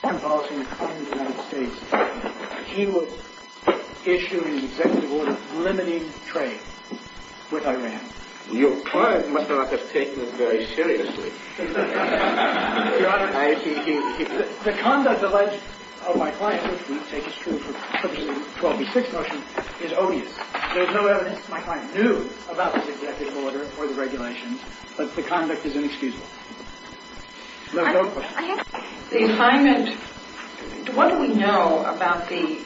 The conduct alleged of my client, which we take as true for the 12 v. 6 motion, is obvious. There is no evidence that my client knew about this executive order or the regulations. But the conduct is inexcusable. I have no question. The assignment, what do we know about the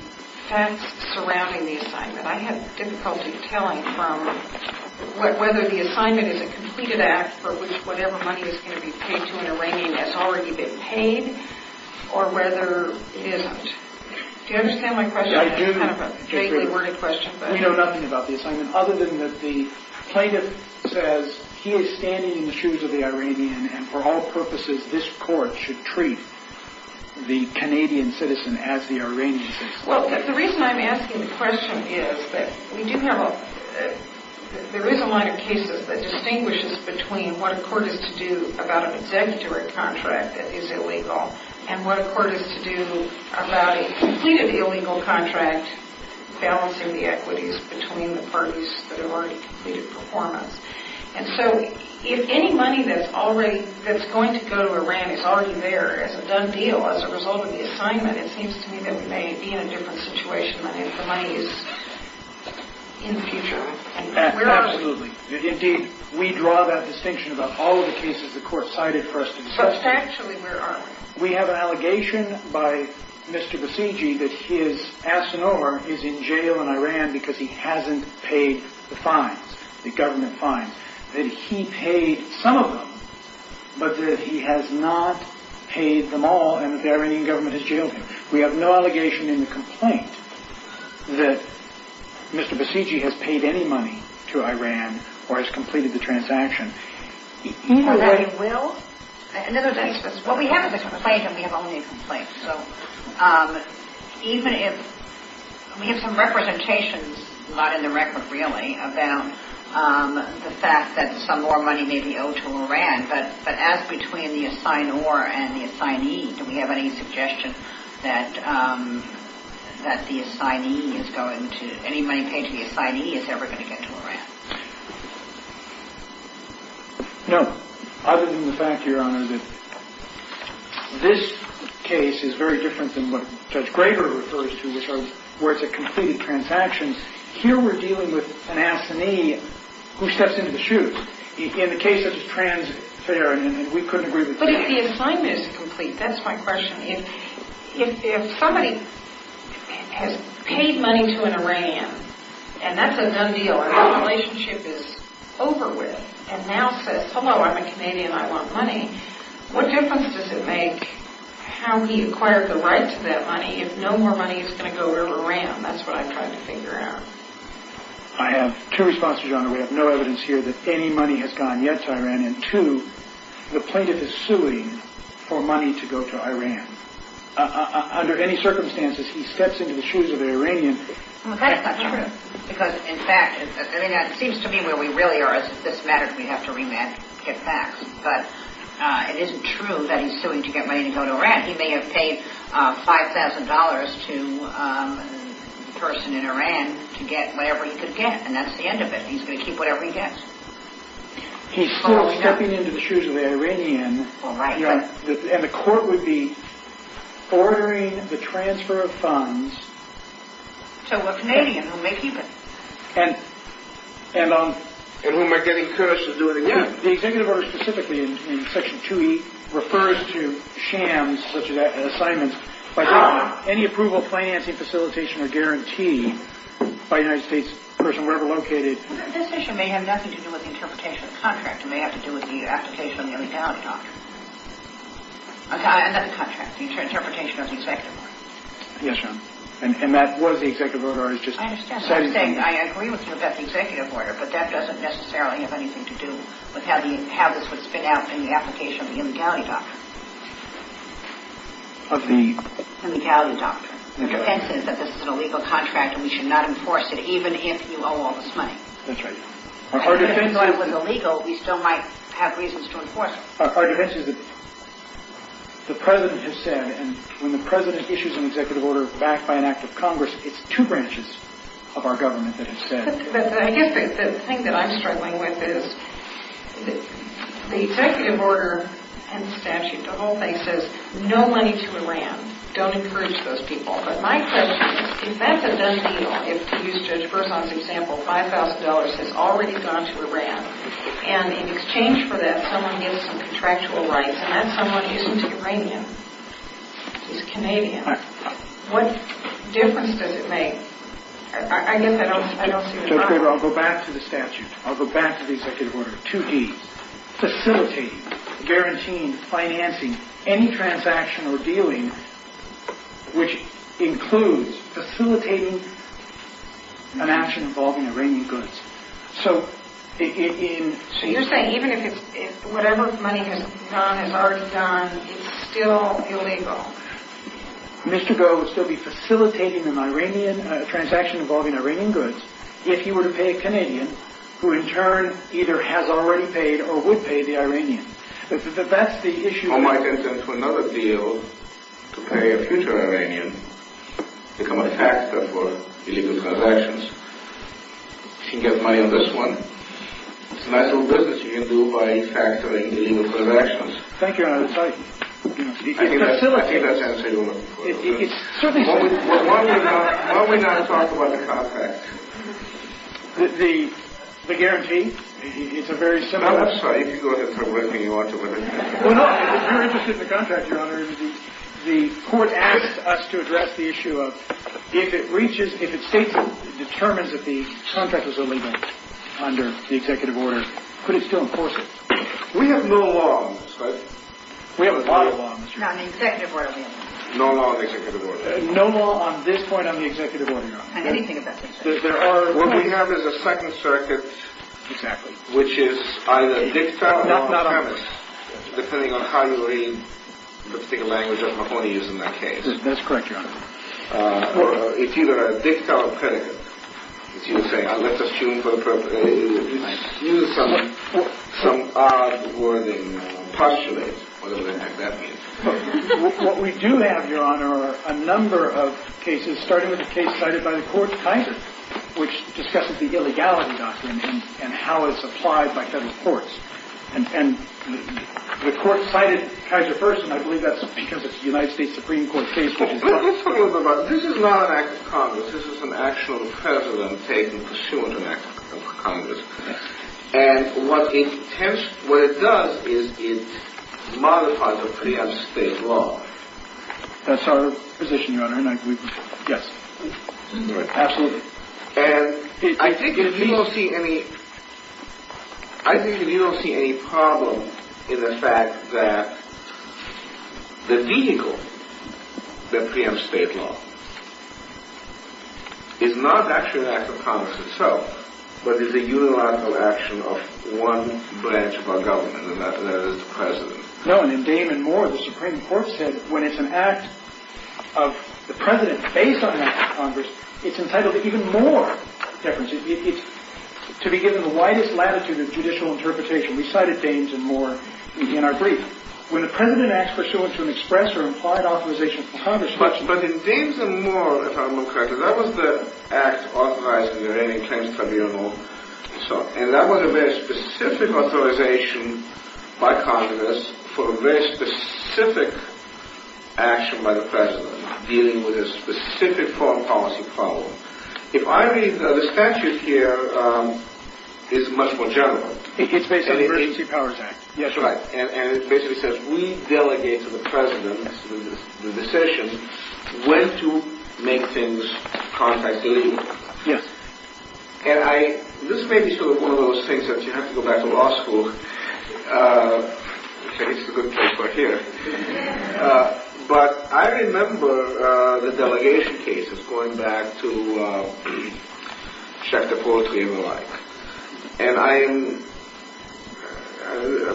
facts surrounding the assignment? I have difficulty telling from whether the assignment is a completed act for which whatever money is going to be paid to an Iranian has already been paid or whether it isn't. Do you understand my question? I do. It's kind of a vaguely worded question. We know nothing about the assignment other than that the plaintiff says he is standing in the shoes of the Iranian and for all purposes this court should treat the Canadian citizen as the Iranian citizen. Well, the reason I'm asking the question is that there is a line of cases that distinguishes between what a court is to do about an executive order contract that is illegal and what a court is to do about a completed illegal contract balancing the equities between the parties that have already completed performance. And so if any money that's going to go to Iran is already there as a done deal, as a result of the assignment, it seems to me that we may be in a different situation if the money is in the future. Absolutely. Indeed, we draw that distinction about all of the cases the court cited first and second. Substantially, where are we? We have an allegation by Mr. Basiji that his asinore is in jail in Iran because he hasn't paid the fines, the government fines. That he paid some of them, but that he has not paid them all and the Iranian government has jailed him. We have no allegation in the complaint that Mr. Basiji has paid any money to Iran or has completed the transaction. What we have is a complaint and we have only a complaint. We have some representations, not in the record really, about the fact that some more money may be owed to Iran. But as between the asinore and the assignee, do we have any suggestion that any money paid to the assignee is ever going to get to Iran? No. Other than the fact, Your Honor, that this case is very different than what Judge Graber refers to, where it's a completed transaction. Here we're dealing with an assignee who steps into the shoes. In the case of the trans fare, we couldn't agree with that. But if the assignment is complete, that's my question. If somebody has paid money to an Iranian, and that's a done deal, and that relationship is over with, and now says, hello, I'm a Canadian, I want money, what difference does it make how he acquired the rights to that money if no more money is going to go to Iran? That's what I'm trying to figure out. We have no evidence here that any money has gone yet to Iran. And two, the plaintiff is suing for money to go to Iran. Under any circumstances, he steps into the shoes of an Iranian. Well, that's not true. Because, in fact, it seems to me where we really are is if this matters, we have to rematch, get back. But it isn't true that he's suing to get money to go to Iran. He may have paid $5,000 to the person in Iran to get whatever he could get, and that's the end of it. He's going to keep whatever he gets. He's still stepping into the shoes of an Iranian. All right. And the court would be ordering the transfer of funds. To a Canadian who may keep it. And whom I get encouraged to do it again. The executive order specifically in section 2E refers to shams such as assignments. But any approval, financing, facilitation, or guarantee by a United States person wherever located. This issue may have nothing to do with the interpretation of the contract. It may have to do with the application of the illegality doctrine. And not the contract. The interpretation of the executive order. Yes, ma'am. And that was the executive order. I understand what you're saying. I agree with you about the executive order. But that doesn't necessarily have anything to do with how this would spin out in the application of the illegality doctrine. Of the? Illegality doctrine. The defense is that this is an illegal contract and we should not enforce it even if you owe all this money. That's right. Even though it was illegal, we still might have reasons to enforce it. Our defense is that the President has said, and when the President issues an executive order backed by an act of Congress, it's two branches of our government that have said. But I guess the thing that I'm struggling with is the executive order and statute, the whole thing, says no money to Iran. Don't encourage those people. But my question is, if that's a done deal, if, to use Judge Berzon's example, $5,000 has already gone to Iran, and in exchange for that, someone gets some contractual rights, and that someone isn't Iranian. He's Canadian. What difference does it make? I guess I don't see the problem. Judge Graber, I'll go back to the statute. I'll go back to the executive order, 2D. Facilitating, guaranteeing, financing any transaction or dealing which includes facilitating an action involving Iranian goods. So you're saying even if whatever money is done is already done, it's still illegal? Mr. Goh would still be facilitating a transaction involving Iranian goods if he were to pay a Canadian, who in turn either has already paid or would pay the Iranian. That's the issue. He might get into another deal to pay a future Iranian, become a factor for illegal transactions. He can get money on this one. It's a nice little business you can do by factoring illegal transactions. Thank you, Your Honor. I think that's answered your question. Why don't we now talk about the contract? The guarantee? It's a very similar… I'm sorry. If you go ahead from where you are to where you are. If you're interested in the contract, Your Honor, the court asked us to address the issue of if it reaches, if it states and determines that the contract is illegal under the executive order, could it still enforce it? We have no law on this, right? We have a law on this. No, on the executive order we have no law. No law on the executive order. No law on this point on the executive order, Your Honor. On anything of that sort. What we have is a second circuit. Exactly. Which is either dicta or premise. Depending on how you read, let's take a language I'm not going to use in that case. That's correct, Your Honor. It's either dicta or predicate. It's either saying, let's assume for appropriateness, it's either some odd wording, postulate, whatever the heck that means. What we do have, Your Honor, are a number of cases, starting with a case cited by the court Kaiser, which discusses the illegality doctrine and how it's applied by federal courts. And the court cited Kaiser first, and I believe that's because it's a United States Supreme Court case. Let's talk a little bit about this. This is not an act of Congress. This is an actual precedent taken pursuant to an act of Congress. And what it does is it modifies or preempts state law. That's our position, Your Honor, and I agree with you. Yes. Absolutely. And I think if you don't see any problem in the fact that the vehicle that preempts state law is not actually an act of Congress itself, but is a unilateral action of one branch of our government, and that is the president. No, and in Damon Moore, the Supreme Court said when it's an act of the president based on an act of Congress, it's entitled to even more deference. It's to be given the widest latitude of judicial interpretation. We cited Damon Moore in our brief. When the president acts pursuant to an express or implied authorization from Congress. But in Damon Moore, if I'm not correct, that was the act authorizing the Iranian claims tribunal. And that was a very specific authorization by Congress for a very specific action by the president, dealing with a specific foreign policy problem. If I read the statute here, it's much more general. It's based on the Emergency Powers Act. Yes, right. And it basically says we delegate to the president the decision when to make things contactally legal. Yes. And this may be sort of one of those things that you have to go back to law school. I think it's a good place right here. But I remember the delegation cases going back to check the poetry and the like. And I'm,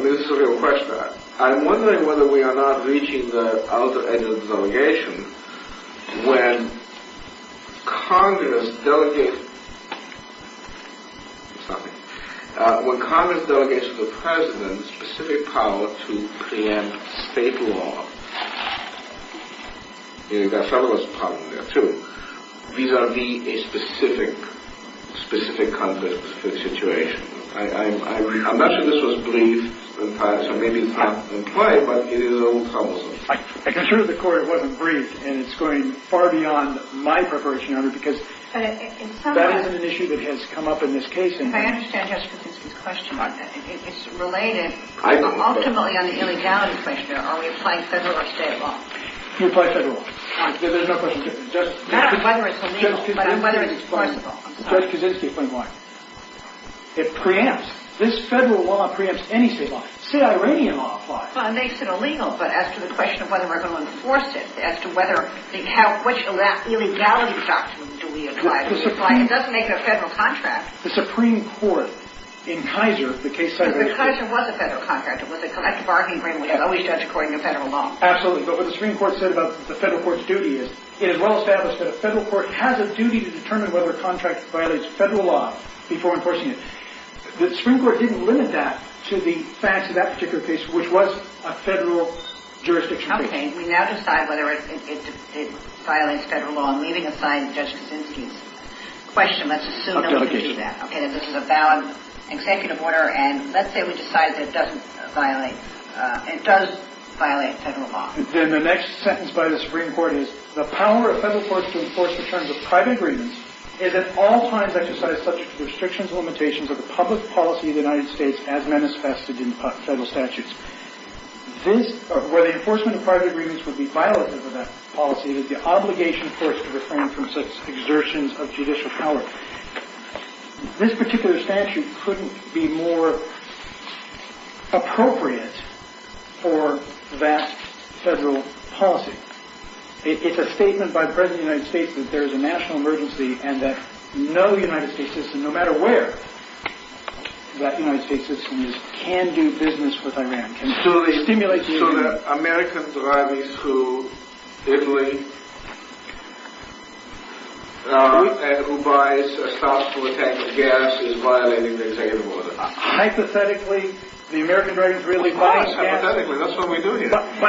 this is a real question. I'm wondering whether we are not reaching the outer edge of the delegation when Congress delegates to the president specific power to preempt state law. There are several problems there, too, vis-a-vis a specific Congress for the situation. I'm not sure this was briefed in time, so maybe it's not in play, but it is a little troublesome. I can assure you the court, it wasn't briefed. And it's going far beyond my preparation, Your Honor, because that is an issue that has come up in this case. If I understand Justice Kaczynski's question, it's related ultimately on the illegality question. Are we applying federal or state law? You apply federal law. There's no question. Not whether it's illegal, but whether it's possible. Judge Kaczynski, explain why. It preempts. This federal law preempts any state law. State Iranian law applies. Well, it makes it illegal, but as to the question of whether we're going to enforce it, as to whether, which illegality document do we apply? It doesn't make it a federal contract. The Supreme Court, in Kaiser, the case cited in Kaiser. But Kaiser was a federal contract. It was a collective bargaining agreement, which was always judged according to federal law. Absolutely. But what the Supreme Court said about the federal court's duty is, it is well established that a federal court has a duty to determine whether a contract violates federal law before enforcing it. The Supreme Court didn't limit that to the facts of that particular case, which was a federal jurisdiction. Okay. We now decide whether it violates federal law. I'm leaving aside Judge Kaczynski's question. Let's assume nobody did that. Okay. This is a valid executive order, and let's say we decide that it doesn't violate – it does violate federal law. Then the next sentence by the Supreme Court is, the power of federal courts to enforce the terms of private agreements is at all times exercised subject to the restrictions and limitations of the public policy of the United States as manifested in federal statutes. Where the enforcement of private agreements would be violative of that policy is the obligation, of course, to refrain from such exertions of judicial power. This particular statute couldn't be more appropriate for vast federal policy. It's a statement by the President of the United States that there is a national emergency and that no United States system, no matter where that United States system is, can do business with Iran, can stimulate the Iranians. So the American driving through Italy and who buys a stop to attack with gas is violating the executive order. Hypothetically, the American driving through Italy – Ah, hypothetically, that's what we do here. Buying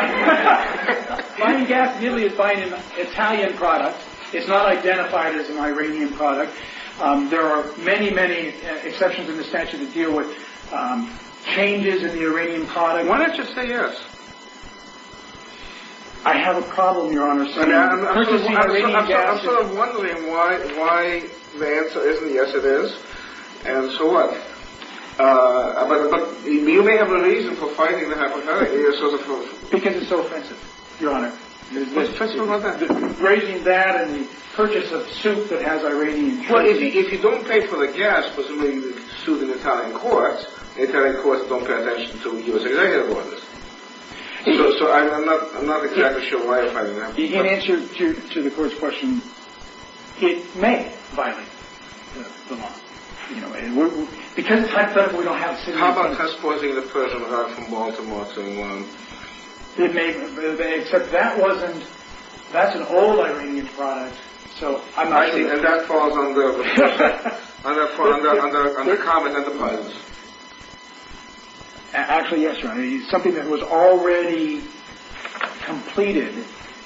gas in Italy is buying an Italian product. It's not identified as an Iranian product. There are many, many exceptions in the statute that deal with changes in the Iranian product. Why don't you say yes? I have a problem, Your Honor, saying that. I'm sort of wondering why the answer isn't yes it is, and so what? But you may have a reason for fighting the hypothetical. Because it's so offensive, Your Honor. What's offensive about that? Raising that and the purchase of a suit that has Iranian traces. Well, if you don't pay for the gas, presumably the suit in Italian courts, the Italian courts don't pay attention to U.S. executive orders. So I'm not exactly sure why you're fighting that. In answer to the court's question, it may violate the law. Because it's hypothetical, we don't have citizenship. How about test-poisoning the Persian heart from one to more than one? Except that's an old Iranian product. I see, and that falls under common enterprise. Actually, yes, Your Honor. It's something that was already completed,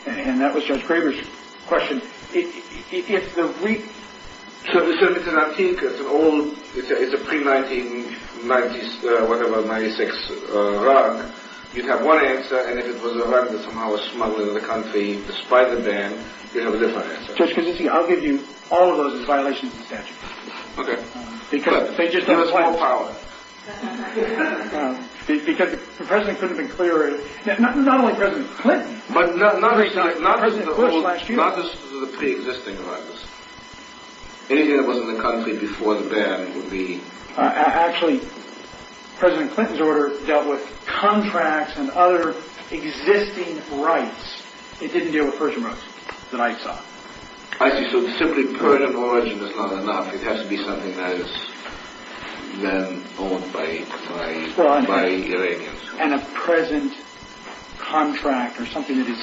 and that was Judge Graber's question. So it's an antique, it's an old, it's a pre-1996 rug. You'd have one answer, and if it was a rug that somehow was smuggled into the country, despite the ban, you'd have a different answer. Judge, as you see, I'll give you all of those as violations of the statute. Okay. Because the President couldn't have been clearer. Not only President Clinton. But not just the pre-existing rugs. Anything that was in the country before the ban would be... Actually, President Clinton's order dealt with contracts and other existing rights. It didn't deal with Persian rugs that I saw. I see, so simply permanent origin is not enough. It has to be something that is then owned by Iranians. And a present contract or something that is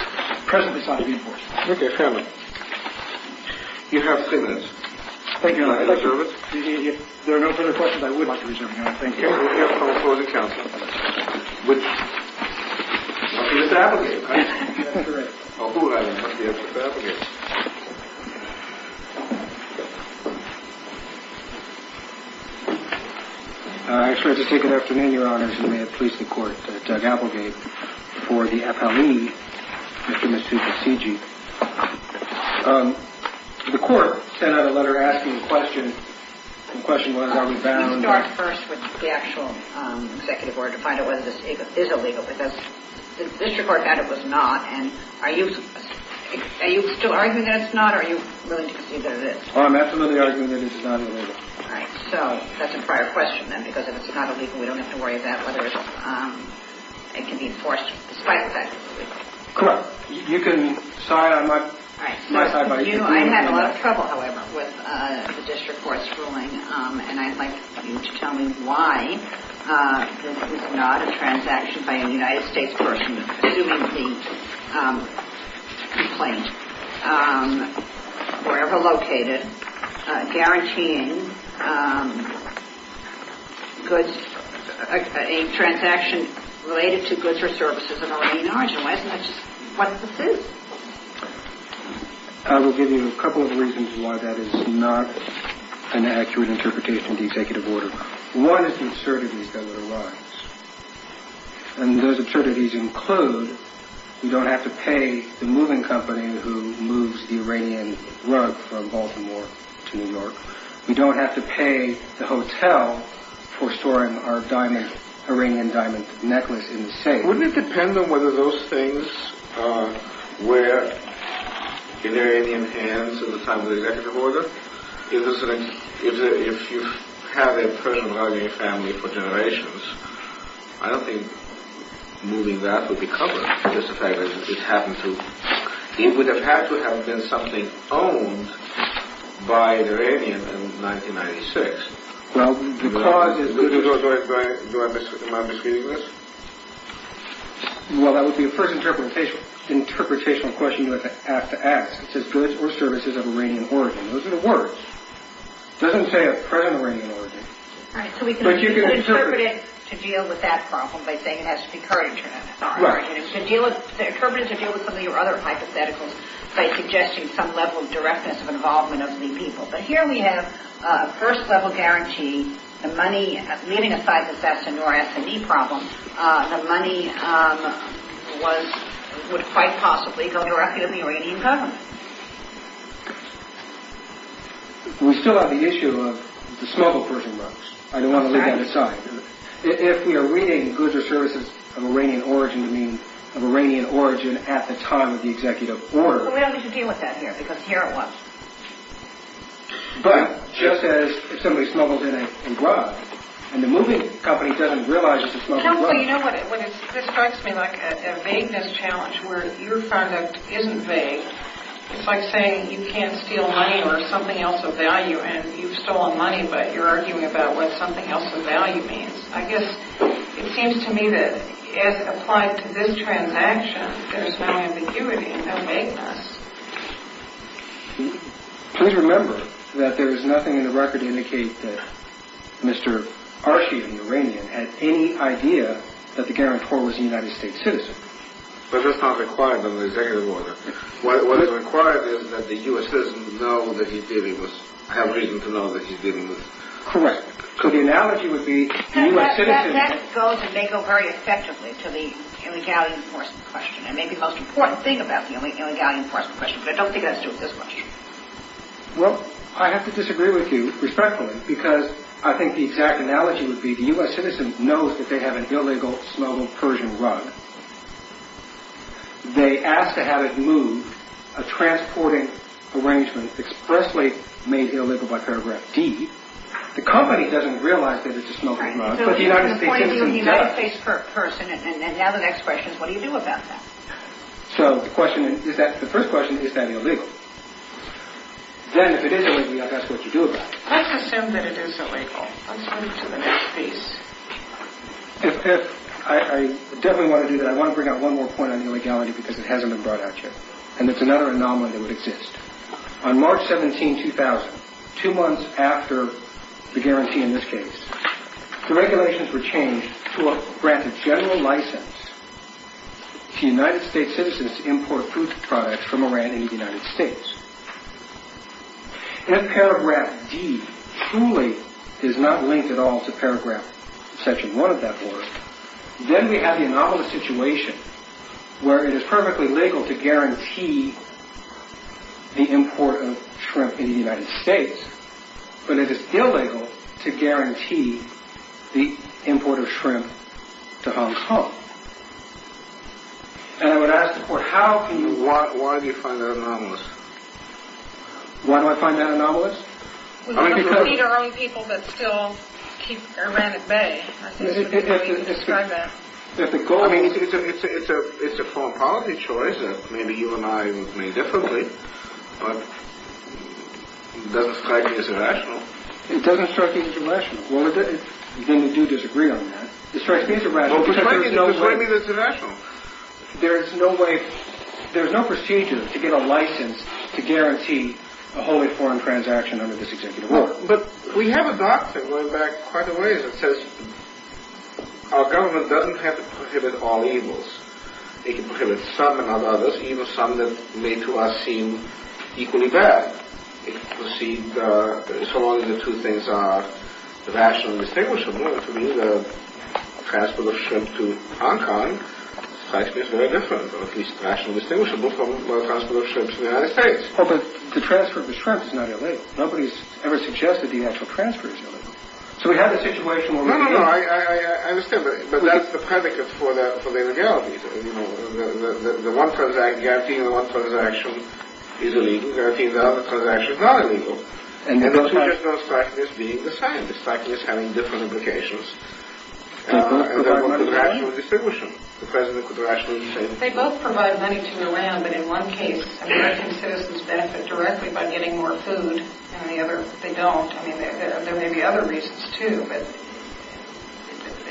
presently sought to be enforced. Okay, fair enough. You have three minutes. Thank you, Your Honor. If there are no further questions, I would like to reserve the hour. Thank you. We have a call for the counsel. Mr. Applegate, right? That's correct. Oh, who had him? Yes, Mr. Applegate. I just wanted to say good afternoon, Your Honor, and may it please the Court that Doug Applegate for the appellee, Mr. and Mrs. Cigi. The Court sent out a letter asking a question, and the question was are we bound by... Let's start first with the actual executive order to find out whether this is illegal. Because the district court had it was not, and are you still arguing that it's not, or are you willing to concede that it is? Oh, I'm absolutely arguing that it is not illegal. All right, so that's a prior question, then, because if it's not illegal, we don't have to worry about whether it can be enforced despite the fact that it's illegal. Correct. You can decide on my side by you. And I'd like you to tell me why this is not a transaction by a United States person, assuming the complaint, wherever located, guaranteeing goods, a transaction related to goods or services of Iranian origin. Why isn't that just what this is? I will give you a couple of reasons why that is not an accurate interpretation of the executive order. One is the absurdities that would arise, and those absurdities include we don't have to pay the moving company who moves the Iranian rug from Baltimore to New York. We don't have to pay the hotel for storing our Iranian diamond necklace in the safe. Wouldn't it depend on whether those things were in Iranian hands at the time of the executive order? If you have a person lugging a family for generations, I don't think moving that would be covered, just the fact that it happened to... It would have had to have been something owned by an Iranian in 1996. Well, the cause is... Am I misreading this? Well, that would be the first interpretational question you would have to ask. It says goods or services of Iranian origin. Those are the words. It doesn't say a present Iranian origin. So we can interpret it to deal with that problem by saying it has to be current Iranian origin. To interpret it to deal with some of your other hypotheticals by suggesting some level of directness of involvement of the people. But here we have a first-level guarantee. Leaving aside the S&R or S&E problem, the money would quite possibly go directly to the Iranian government. We still have the issue of the smuggled Persian rugs. I don't want to leave that aside. If we are reading goods or services of Iranian origin to mean of Iranian origin at the time of the executive order... We don't need to deal with that here, because here it was. But, just as if somebody smuggles in a rug, and the moving company doesn't realize it's a smuggled rug... You know what? This strikes me like a vagueness challenge, where your product isn't vague. It's like saying you can't steal money or something else of value, and you've stolen money, but you're arguing about what something else of value means. I guess it seems to me that, as applied to this transaction, there's no ambiguity, no vagueness. Please remember that there is nothing in the record to indicate that Mr. Arshi of Iran had any idea that the guarantor was a United States citizen. But that's not required under the executive order. What is required is that the U.S. citizen know that he's dealing with... have reason to know that he's dealing with... Correct. So the analogy would be the U.S. citizen... That goes and may go very effectively to the illegality enforcement question. It may be the most important thing about the illegality enforcement question, but I don't think it has to do with this question. Well, I have to disagree with you, respectfully, because I think the exact analogy would be the U.S. citizen knows that they have an illegal smuggled Persian rug. They ask to have it moved, a transporting arrangement expressly made illegal by paragraph D. The company doesn't realize that it's a smuggled rug, but the United States citizen does. The point of view of the United States person, and now the next question is what do you do about that? So the question is that, the first question, is that illegal? Then, if it is illegal, that's what you do about it. Let's assume that it is illegal. Let's move to the next piece. I definitely want to do that. I want to bring out one more point on illegality because it hasn't been brought out yet, and it's another anomaly that would exist. On March 17, 2000, two months after the guarantee in this case, the regulations were changed to grant a general license to United States citizens to import food products from Iran and the United States. If paragraph D truly is not linked at all to paragraph section 1 of that board, then we have the anomalous situation where it is perfectly legal to guarantee the import of shrimp into the United States, but it is illegal to guarantee the import of shrimp to Hong Kong. And I would ask the court, why do you find that anomalous? Why do I find that anomalous? We want to feed our own people, but still keep Iran at bay. I think that's a good way to describe that. I mean, it's a foreign policy choice that maybe you and I would make differently, but it doesn't strike me as irrational. It doesn't strike you as irrational? Well, then we do disagree on that. It strikes me as irrational. Well, prescribe me that it's irrational. There is no procedure to get a license to guarantee a wholly foreign transaction under this executive order. But we have a doctrine going back quite a ways that says our government doesn't have to prohibit all evils. It can prohibit some and not others, even some that may to us seem equally bad. It can proceed so long as the two things are rationally distinguishable, and to me, the transfer of shrimp to Hong Kong strikes me as very different, or at least rationally distinguishable from the transfer of shrimp to the United States. Well, but the transfer of the shrimp is not illegal. Nobody's ever suggested the actual transfer is illegal. So we have a situation where we can... No, no, no, I understand, but that's the predicate for the illegality. You know, the one transaction, guaranteeing the one transaction is illegal, guaranteeing the other transaction is not illegal. And the two just don't strike me as being the same. They strike me as having different implications. And they're both rationally distinguishable. The President could rationally say... They both provide money to Iran, but in one case, I mean, I think citizens benefit directly by getting more food, and in the other, they don't. I mean, there may be other reasons, too, but...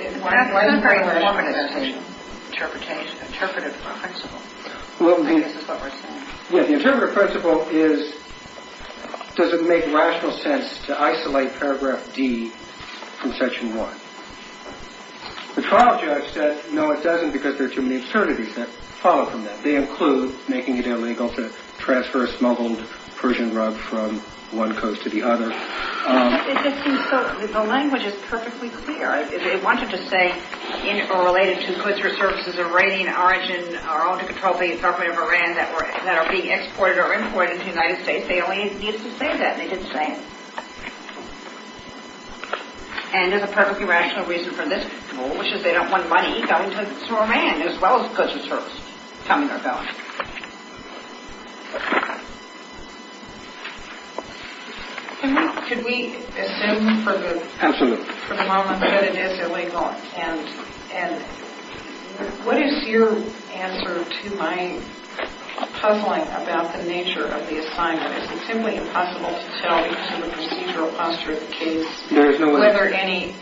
It's not a very reasonable interpretation, interpretive principle. I guess that's what we're saying. Yeah, the interpretive principle is, does it make rational sense to isolate Paragraph D from Section 1? The trial judge said, no, it doesn't, because there are too many absurdities that follow from that. They include making it illegal to transfer a smuggled Persian rub from one coast to the other. It just seems so... The language is perfectly clear. They wanted to say, or related to, that the goods or services of Iranian origin are under control by the government of Iran that are being exported or imported to the United States. They only needed to say that, and they didn't say it. And there's a perfectly rational reason for this rule, which is they don't want money going to Iran, as well as goods or services coming or going. Could we assume for the moment that it is illegal and what is your answer to my puzzling about the nature of the assignment? Is it simply impossible to tell from the procedural posture of the case whether any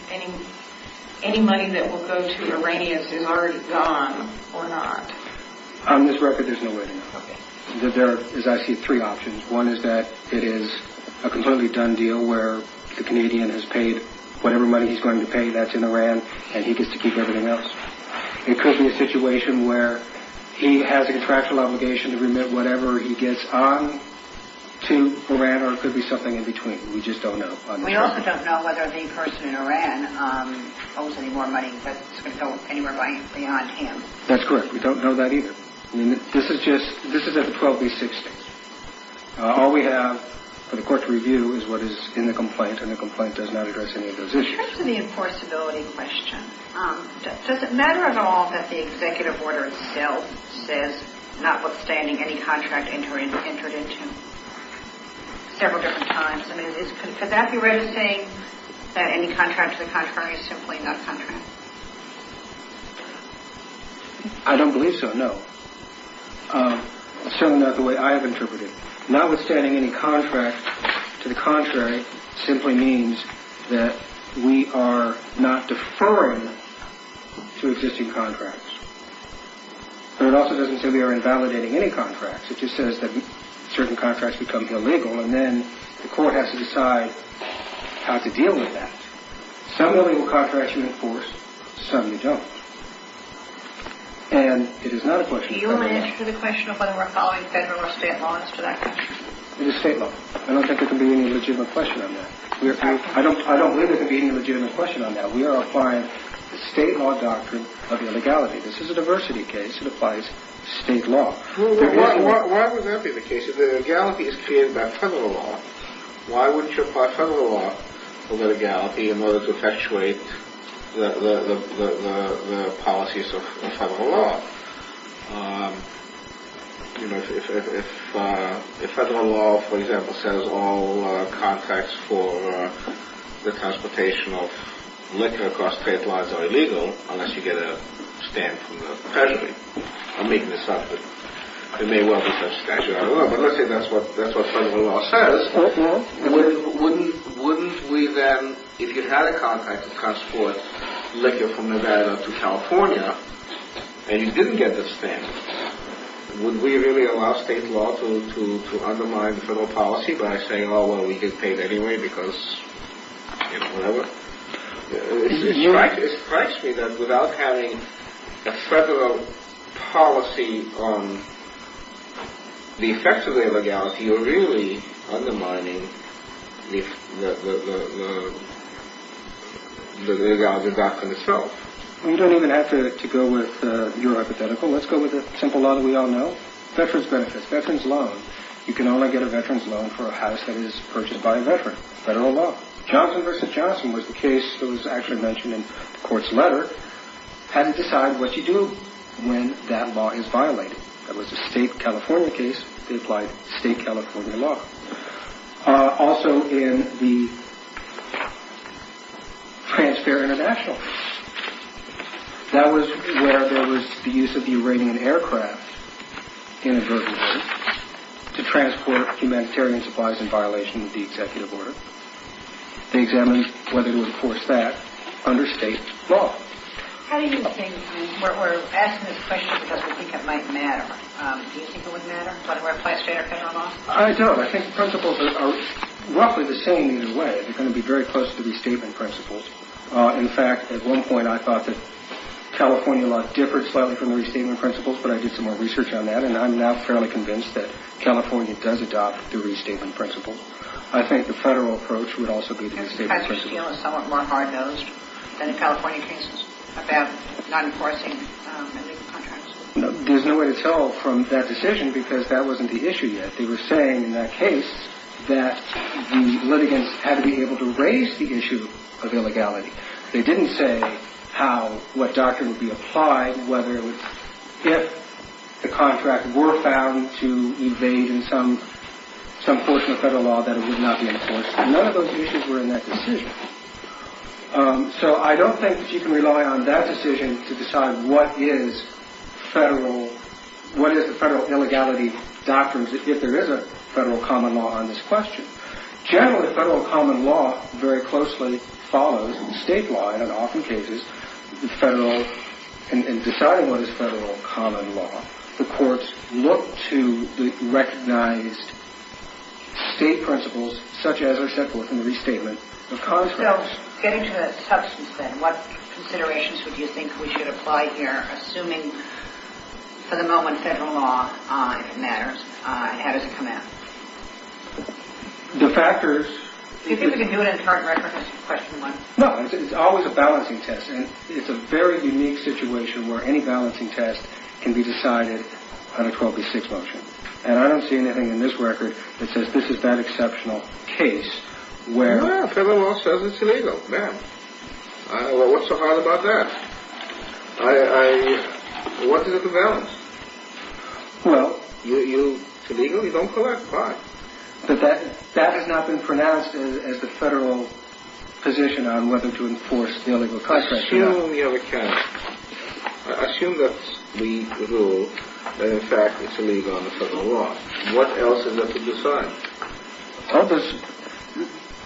money that will go to Iranians is already gone or not? On this record, there's no way to know. There are, as I see it, three options. One is that it is a completely done deal where the Canadian has paid whatever money he's going to pay. That's in Iran, and he gets to keep everything else. It could be a situation where he has a contractual obligation to remit whatever he gets on to Iran, or it could be something in between. We just don't know. We also don't know whether the person in Iran owes any more money that's going to go anywhere beyond him. That's correct. We don't know that either. This is at the 12B60. All we have for the court to review is what is in the complaint, and the complaint does not address any of those issues. In terms of the enforceability question, does it matter at all that the executive order itself says notwithstanding any contract entered into several different times? Could that be registering that any contract to the contrary is simply not contract? I don't believe so, no. It's certainly not the way I have interpreted it. Notwithstanding any contract to the contrary simply means that we are not deferring to existing contracts. But it also doesn't say we are invalidating any contracts. It just says that certain contracts become illegal, and then the court has to decide how to deal with that. Some illegal contracts you enforce, some you don't. Do you have an answer to the question of whether we're following federal or state laws to that question? It is state law. I don't think there can be any legitimate question on that. I don't believe there can be any legitimate question on that. We are applying the state law doctrine of illegality. This is a diversity case. It applies state law. Why would that be the case? If the legality is created by federal law, why wouldn't you apply federal law to legality in order to effectuate the policies of federal law? If federal law, for example, says all contracts for the transportation of liquor across state lines are illegal, unless you get a stamp from the treasury. I'm making this up, but it may well be such a statute. I don't know, but let's say that's what federal law says. Wouldn't we then, if you had a contract to transport liquor from Nevada to California and you didn't get the stamp, would we really allow state law to undermine federal policy by saying, oh, well, we get paid anyway because, you know, whatever? It strikes me that without having a federal policy the effects of illegality are really undermining the legality doctrine itself. You don't even have to go with your hypothetical. Let's go with a simple law that we all know. Veterans benefits, veterans loan. You can only get a veterans loan for a house that is purchased by a veteran. Federal law. Johnson v. Johnson was the case that was actually mentioned in the court's letter had to decide what you do when that law is violated. That was a state California case. They applied state California law. Also in the transfer international case. That was where there was the use of the Iranian aircraft inadvertently to transport humanitarian supplies in violation of the executive order. They examined whether to enforce that under state law. How do you think, we're asking this question because we think it might matter. Do you think it would matter? Would it apply state or federal law? I don't. I think the principles are roughly the same either way. They're going to be very close to the restatement principles. In fact, at one point I thought that California law differed slightly from the restatement principles, but I did some more research on that and I'm now fairly convinced that California does adopt the restatement principles. I think the federal approach would also be the restatement principles. I just feel somewhat more hard-nosed than in California cases about not enforcing illegal contracts. There's no way to tell from that decision because that wasn't the issue yet. They were saying in that case that the litigants had to be able to raise the issue of illegality. They didn't say how, what doctrine would be applied, whether it was if the contract were found to evade in some portion of federal law that it would not be enforced. None of those issues were in that decision. So I don't think that you can rely on that decision to decide what is the federal illegality doctrines if there is a federal common law on this question. Generally, federal common law very closely follows, and in deciding what is federal common law, the courts look to the recognized state principles, such as are set forth in the restatement of conscripts. So getting to the substance then, what considerations would you think we should apply here, assuming for the moment federal law matters? How does it come out? The factors... Do you think we can do an entire record on question one? No, it's always a balancing test, and it's a very unique situation where any balancing test can be decided on a 12 v. 6 motion. And I don't see anything in this record that says this is that exceptional case where... Well, federal law says it's illegal. Man, what's so hard about that? What is it about? Well... It's illegal? You don't collect? Fine. That has not been pronounced as the federal position on whether to enforce the illegal contract or not. Assume the other case. Assume that we rule that, in fact, it's illegal under federal law. What else is there to decide? Well, there's...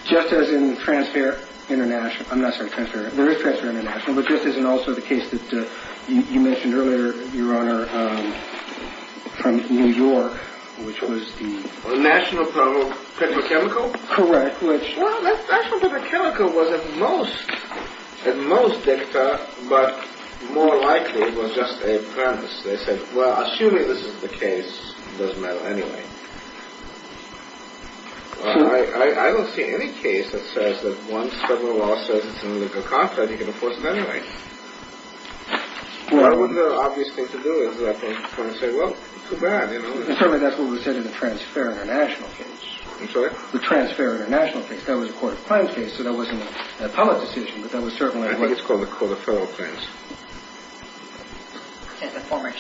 Just as in transfer international... I'm not saying transfer... There is transfer international, but this isn't also the case that you mentioned earlier, Your Honor, from New York, which was the... The National Petrochemical? Correct, which... Well, National Petrochemical was at most dicta, but more likely it was just a premise. They said, well, assuming this is the case, it doesn't matter anyway. I don't see any case that says that once federal law says it's an illegal contract, you can enforce it anyway. What would the obvious thing to do is at that point say, well, too bad, you know? Well, certainly that's what was said in the transfer international case. I'm sorry? The transfer international case. That was a court of claims case, so that wasn't a public decision, but that was certainly... I think it's called the court of federal claims. Yeah, the former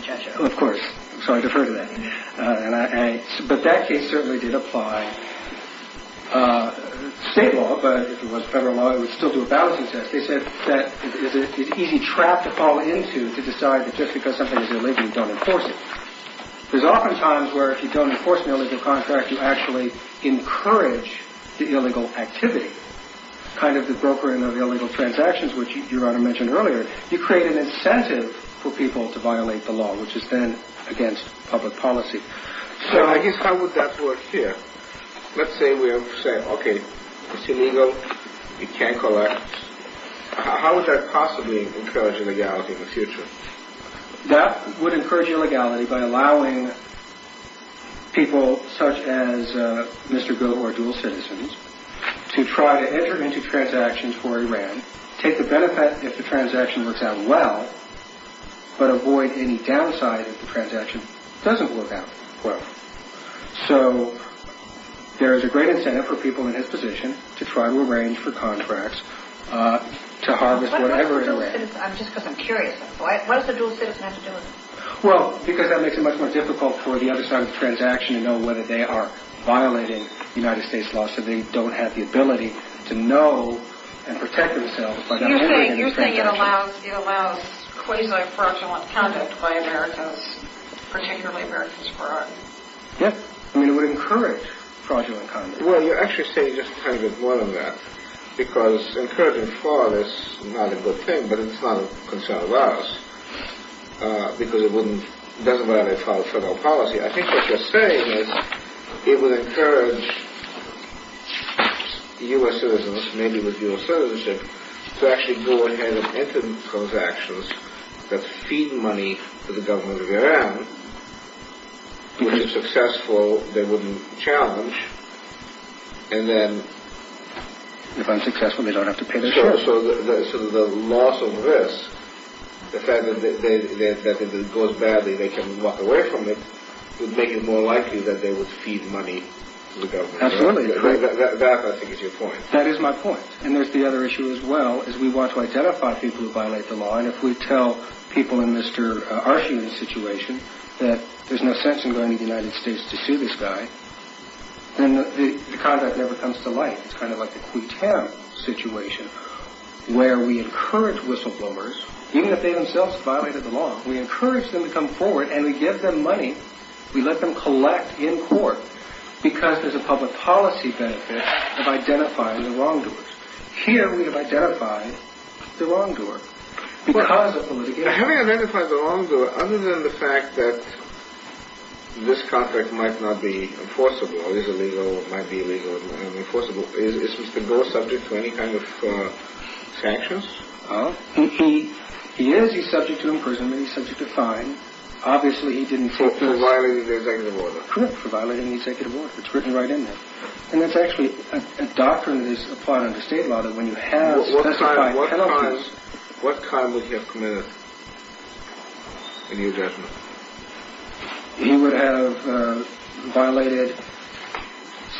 judge... Of course. So I defer to that. But that case certainly did apply state law, but if it was federal law, it would still do a balancing test. They said that it's an easy trap to fall into to decide that just because something is illegal, you don't enforce it. There's often times where if you don't enforce an illegal contract, you actually encourage the illegal activity, kind of the brokering of illegal transactions, which Your Honor mentioned earlier. You create an incentive for people to violate the law, which is then against public policy. So I guess how would that work here? Let's say we say, okay, it's illegal, you can't collect. How would that possibly encourage illegality in the future? That would encourage illegality by allowing people such as Mr. Goh or Dual Citizens to try to enter into transactions for Iran, take the benefit if the transaction works out well, but avoid any downside if the transaction doesn't work out well. So there is a great incentive for people in his position to try to arrange for contracts, to harvest whatever it arranges. Just because I'm curious, why does the Dual Citizen have to do it? Well, because that makes it much more difficult for the other side of the transaction to know whether they are violating United States law, so they don't have the ability to know and protect themselves by not violating the transaction. Do you think it allows quasi-fraudulent conduct by Americans, particularly Americans for Iran? Yes. I mean, it would encourage fraudulent conduct. Well, you're actually saying just a little bit more than that, because encouraging fraud is not a good thing, but it's not a concern of ours, because it doesn't violate federal policy. I think what you're saying is it would encourage U.S. citizens, maybe with dual citizenship, to actually go ahead and enter transactions that feed money to the government of Iran, which is successful, they wouldn't challenge, and then... If unsuccessful, they don't have to pay the share. So the loss of this, the fact that it goes badly, they can walk away from it, would make it more likely that they would feed money to the government of Iran. Absolutely. That, I think, is your point. That is my point. And there's the other issue as well, is we want to identify people who violate the law, and if we tell people in Mr. Arshin's situation that there's no sense in going to the United States to sue this guy, then the conduct never comes to light. It's kind of like the Kuytem situation, where we encourage whistleblowers, even if they themselves violated the law, we encourage them to come forward and we give them money. We let them collect in court because there's a public policy benefit of identifying the wrongdoers. Here we have identified the wrongdoer because of the litigation. Having identified the wrongdoer, other than the fact that this contract might not be enforceable, or is illegal, might be illegal, might be enforceable, is Mr. Gore subject to any kind of sanctions? He is. He's subject to imprisonment. He's subject to fines. For violating the executive order? Correct, for violating the executive order. It's written right in there. And that's actually a doctrine that is applied under state law, that when you have specified penalties... What kind would he have committed in your judgment? He would have violated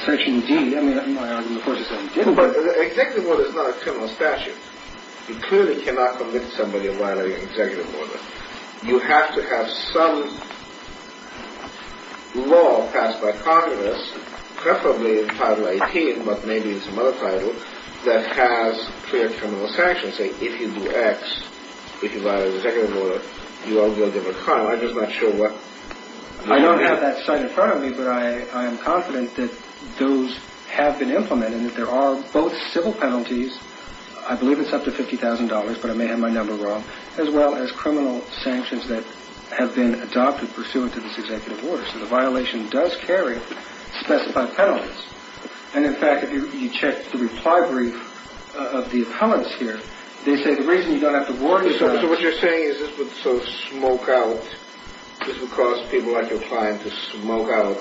Section D. I mean, my argument, of course, is that he didn't. But executive order is not a criminal statute. You clearly cannot convict somebody of violating an executive order. You have to have some law passed by Congress, preferably in Title 18, but maybe it's another title, that has clear criminal sanctions. Say, if you do X, if you violate an executive order, you are guilty of a crime. I'm just not sure what... I don't have that cited in front of me, but I am confident that those have been implemented, and that there are both civil penalties, I believe it's up to $50,000, but I may have my number wrong, as well as criminal sanctions that have been adopted pursuant to this executive order. So the violation does carry specified penalties. And, in fact, if you check the reply brief of the appellants here, they say the reason you don't have to warrant... So what you're saying is this would sort of smoke out... This would cause people like your client to smoke out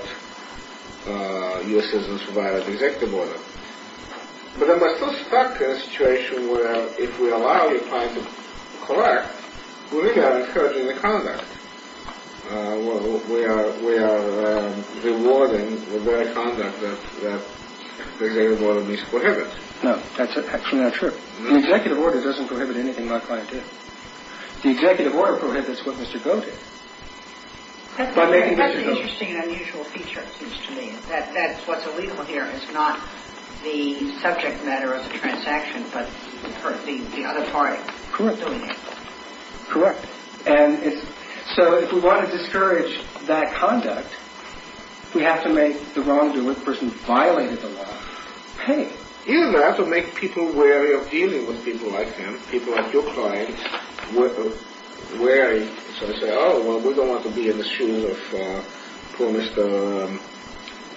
U.S. citizens who violated the executive order. But then we're still stuck in a situation where, if we allow your client to correct, we're really not encouraging the conduct. We are rewarding the very conduct that the executive order misprohibits. No, that's actually not true. The executive order doesn't prohibit anything my client did. The executive order prohibits what Mr. Goh did. That's an interesting and unusual feature, it seems to me. That what's illegal here is not the subject matter of the transaction, but the auditory. Correct. Correct. And so if we want to discourage that conduct, we have to make the wrongdoer, the person who violated the law, pay. You don't have to make people wary of dealing with people like them. People like your client are wary. So they say, oh, well, we don't want to be in the shoes of poor Mr.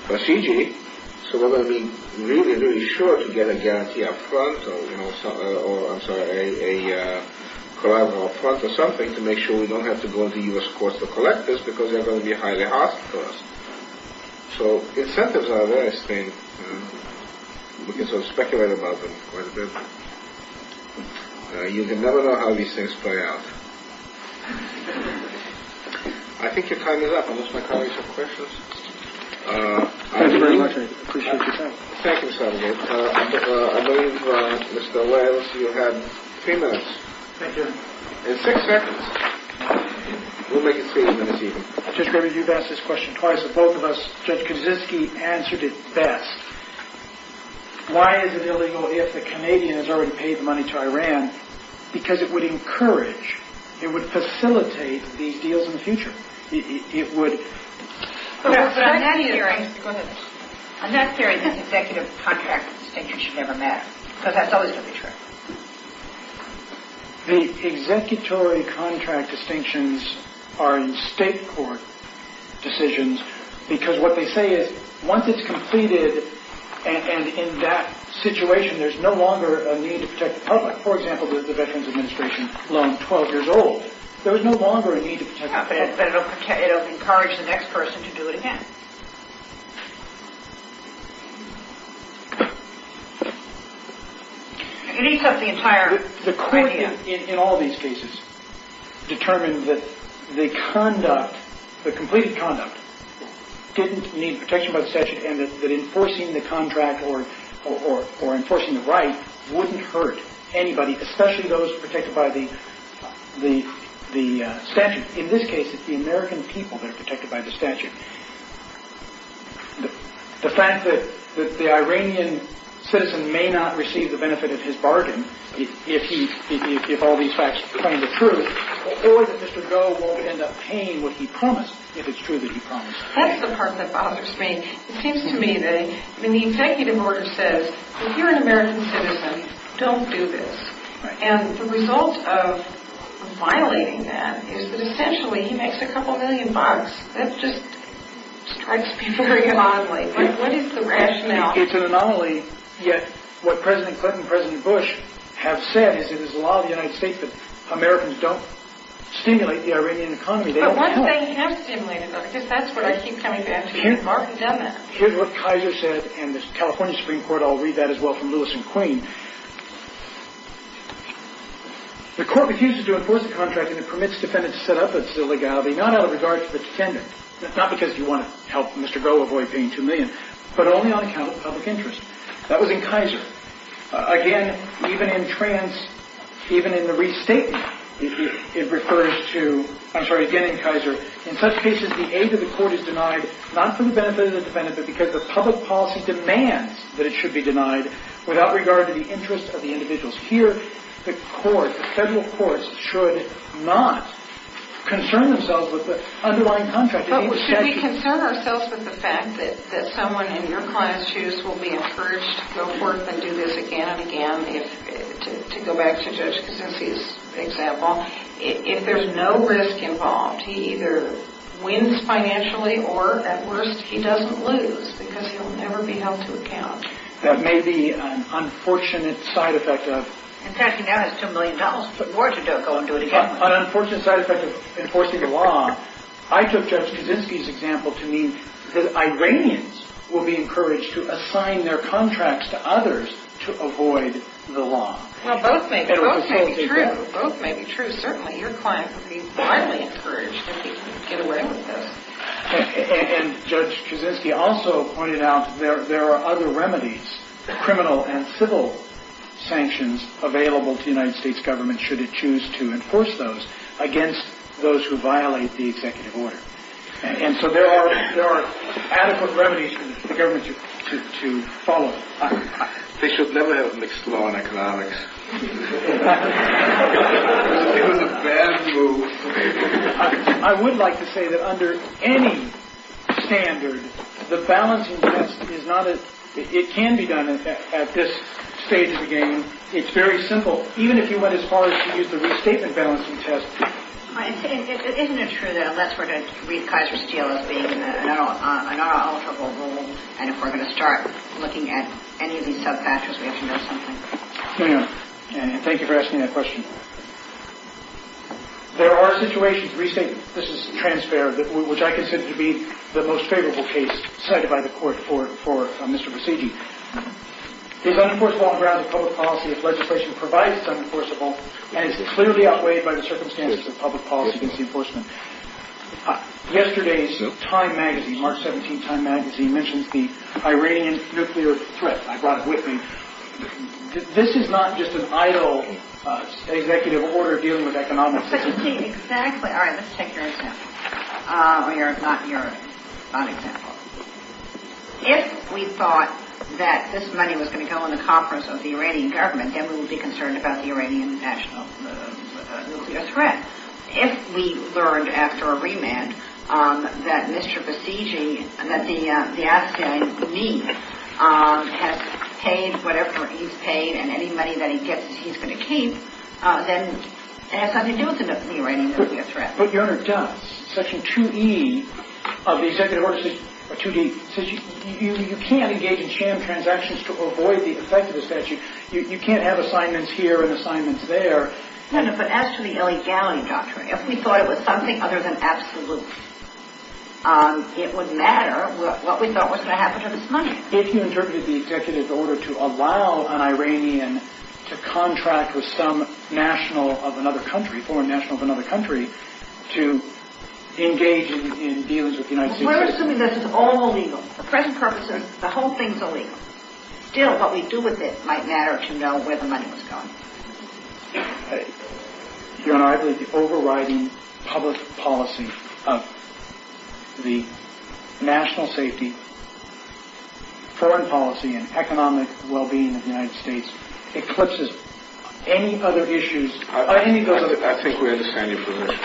Basigi, so we're going to be really, really sure to get a guarantee up front or, I'm sorry, a collateral up front or something to make sure we don't have to go into U.S. courts to collect this because they're going to be highly hostile to us. So incentives are there, I think. We can sort of speculate about them quite a bit. You can never know how these things play out. I think your time is up. I'll let my colleagues have questions. Thank you very much. I appreciate your time. Thank you, Senator. I believe, Mr. Lenz, you had three minutes. Thank you. And six seconds. We'll make it three minutes even. Judge Graber, you've asked this question twice with both of us. Judge Kaczynski answered it best. Why is it illegal if the Canadian has already paid the money to Iran? Because it would encourage, it would facilitate these deals in the future. It would. But I'm not hearing. Go ahead. I'm not hearing that the executive contract distinction should never matter because that's always going to be true. The executory contract distinctions are in state court decisions because what they say is once it's completed and in that situation, there's no longer a need to protect the public. For example, the Veterans Administration loaned 12 years old. There is no longer a need to protect the public. But it will encourage the next person to do it again. It eats up the entire idea. The court in all these cases determined that the conduct, the completed conduct didn't need protection by the statute and that enforcing the contract or enforcing the right wouldn't hurt anybody, especially those protected by the statute. In this case, it's the American people that are protected by the statute. The fact that the Iranian citizen may not receive the benefit of his bargain if all these facts claim the truth, or that Mr. Goh won't end up paying what he promised if it's true that he promised. That's the part that bothers me. It seems to me that when the executive order says, if you're an American citizen, don't do this, and the result of violating that is that essentially he makes a couple million bucks. That just strikes me very oddly. What is the rationale? It's an anomaly, yet what President Clinton and President Bush have said is that it's the law of the United States that Americans don't stimulate the Iranian economy. But once they have stimulated them, because that's what I keep coming back to. Martin's done that. Here's what Kaiser said in the California Supreme Court. I'll read that as well from Lewis and Queen. The court refuses to enforce the contract and it permits defendants to set up at Zilligabi, not out of regard to the defendant, not because you want to help Mr. Goh avoid paying two million, but only on account of public interest. That was in Kaiser. Again, even in the restatement, it refers to, I'm sorry, again in Kaiser, in such cases the aid of the court is denied not for the benefit of the defendant, but because the public policy demands that it should be denied without regard to the interest of the individuals. Here the court, the federal courts, should not concern themselves with the underlying contract. But should we concern ourselves with the fact that someone in your client's shoes will be encouraged to go forth and do this again and again? To go back to Judge Kuczynski's example, if there's no risk involved, he either wins financially or, at worst, he doesn't lose because he'll never be held to account. That may be an unfortunate side effect of... In fact, he now has two million dollars, put more to go and do it again. An unfortunate side effect of enforcing the law. I took Judge Kuczynski's example to mean that Iranians will be encouraged to assign their contracts to others to avoid the law. Well, both may be true. Both may be true, certainly. Your client would be wildly encouraged if he could get away with this. And Judge Kuczynski also pointed out that there are other remedies, criminal and civil sanctions, available to the United States government should it choose to enforce those against those who violate the executive order. And so there are adequate remedies for the government to follow. They should never have mixed law and economics. It was a bad move. I would like to say that under any standard, the balancing test is not a... It can be done at this stage of the game. It's very simple. Even if you went as far as to use the restatement balancing test. Isn't it true that unless we're going to read Kaiser Steel as being an unalterable rule and if we're going to start looking at any of these subfactors, we have to know something? Thank you for asking that question. There are situations recently... This is transfer, which I consider to be the most favorable case cited by the court for Mr. Buscegi. It's unenforceable on grounds of public policy if legislation provides it's unenforceable and it's clearly outweighed by the circumstances of public policy against the enforcement. Yesterday's Time Magazine, March 17 Time Magazine, mentions the Iranian nuclear threat. I brought it with me. This is not just an idle executive order dealing with economic... Exactly. All right, let's take your example. Not your example. If we thought that this money was going to go in the conference of the Iranian government, then we would be concerned about the Iranian national nuclear threat. If we learned after a remand that Mr. Buscegi, that the Afghan needs, has paid whatever he's paid and any money that he gets he's going to keep, then it has something to do with the Iranian nuclear threat. But Your Honor, it does. Section 2E of the executive order, or 2D, says you can't engage in sham transactions to avoid the effect of the statute. You can't have assignments here and assignments there. But as to the illegality doctrine, if we thought it was something other than absolute, it would matter what we thought was going to happen to this money. If you interpreted the executive order to allow an Iranian to contract with some national of another country, foreign national of another country, to engage in deals with the United States... We're assuming this is all illegal. For present purposes, the whole thing's illegal. Still, what we do with it might matter to know where the money was going. Your Honor, I believe the overriding public policy of the national safety, foreign policy, and economic well-being of the United States eclipses any other issues... I think we understand your position.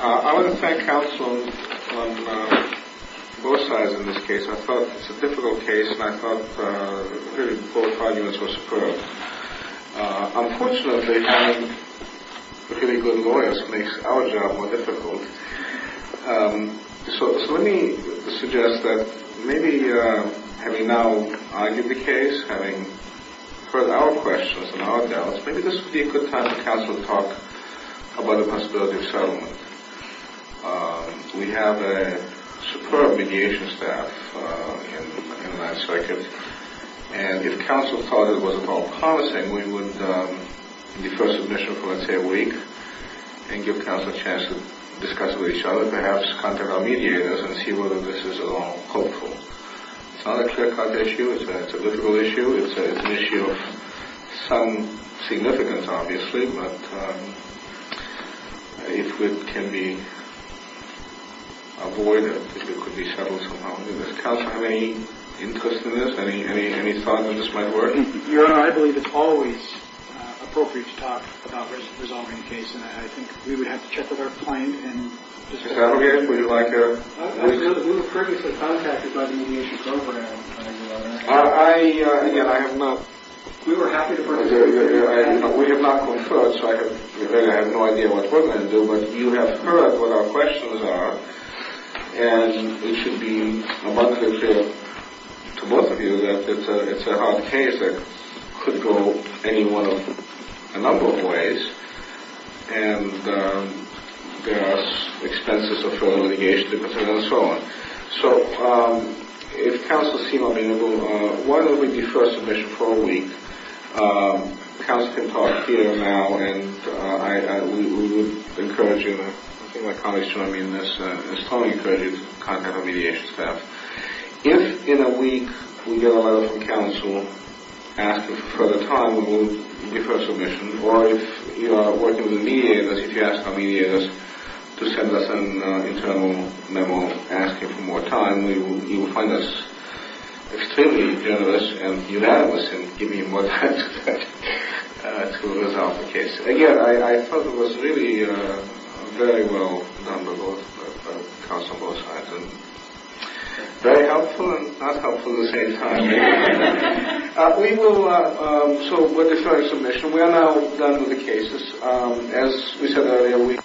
I want to thank counsel on both sides in this case. I thought it's a difficult case, and I thought both arguments were superb. Unfortunately, having really good lawyers makes our job more difficult. So let me suggest that maybe having now argued the case, having heard our questions and our doubts, maybe this would be a good time for counsel to talk about the possibility of settlement. We have a superb mediation staff in the 9th Circuit, and if counsel thought it was at all promising, we would defer submission for, let's say, a week and give counsel a chance to discuss with each other, perhaps contact our mediators, and see whether this is at all hopeful. It's not a clear-cut issue. It's a difficult issue. It's an issue of some significance, obviously, but it can be avoided if it could be settled somehow. Does counsel have any interest in this? Any thought on this might work? Your Honor, I believe it's always appropriate to talk about resolving the case, and I think we would have to check with our client and... Is that okay? Would you like a... We were previously contacted by the mediation program. Again, I am not... We were happy to... We have not conferred, so I have no idea what we're going to do, but you have heard what our questions are, and it should be abundantly clear to both of you that it's a hard case that could go any one of a number of ways, and there are expenses of further litigation and so on. So if counsels seem amenable, why don't we defer submission for a week? Counsel can talk here now, and we would encourage you, and I think my colleagues join me in this, strongly encourage you to contact our mediation staff. If, in a week, we get a letter from counsel asking for further time, we will defer submission, or if you are working with a mediator, if you ask our mediators to send us an internal memo asking for more time, you will find us extremely generous and unanimous in giving you more time to resolve the case. Again, I thought it was really very well done by both counsels on both sides, and very helpful and not helpful at the same time. We will... So we'll defer submission. We are now done with the cases. As we said earlier, we...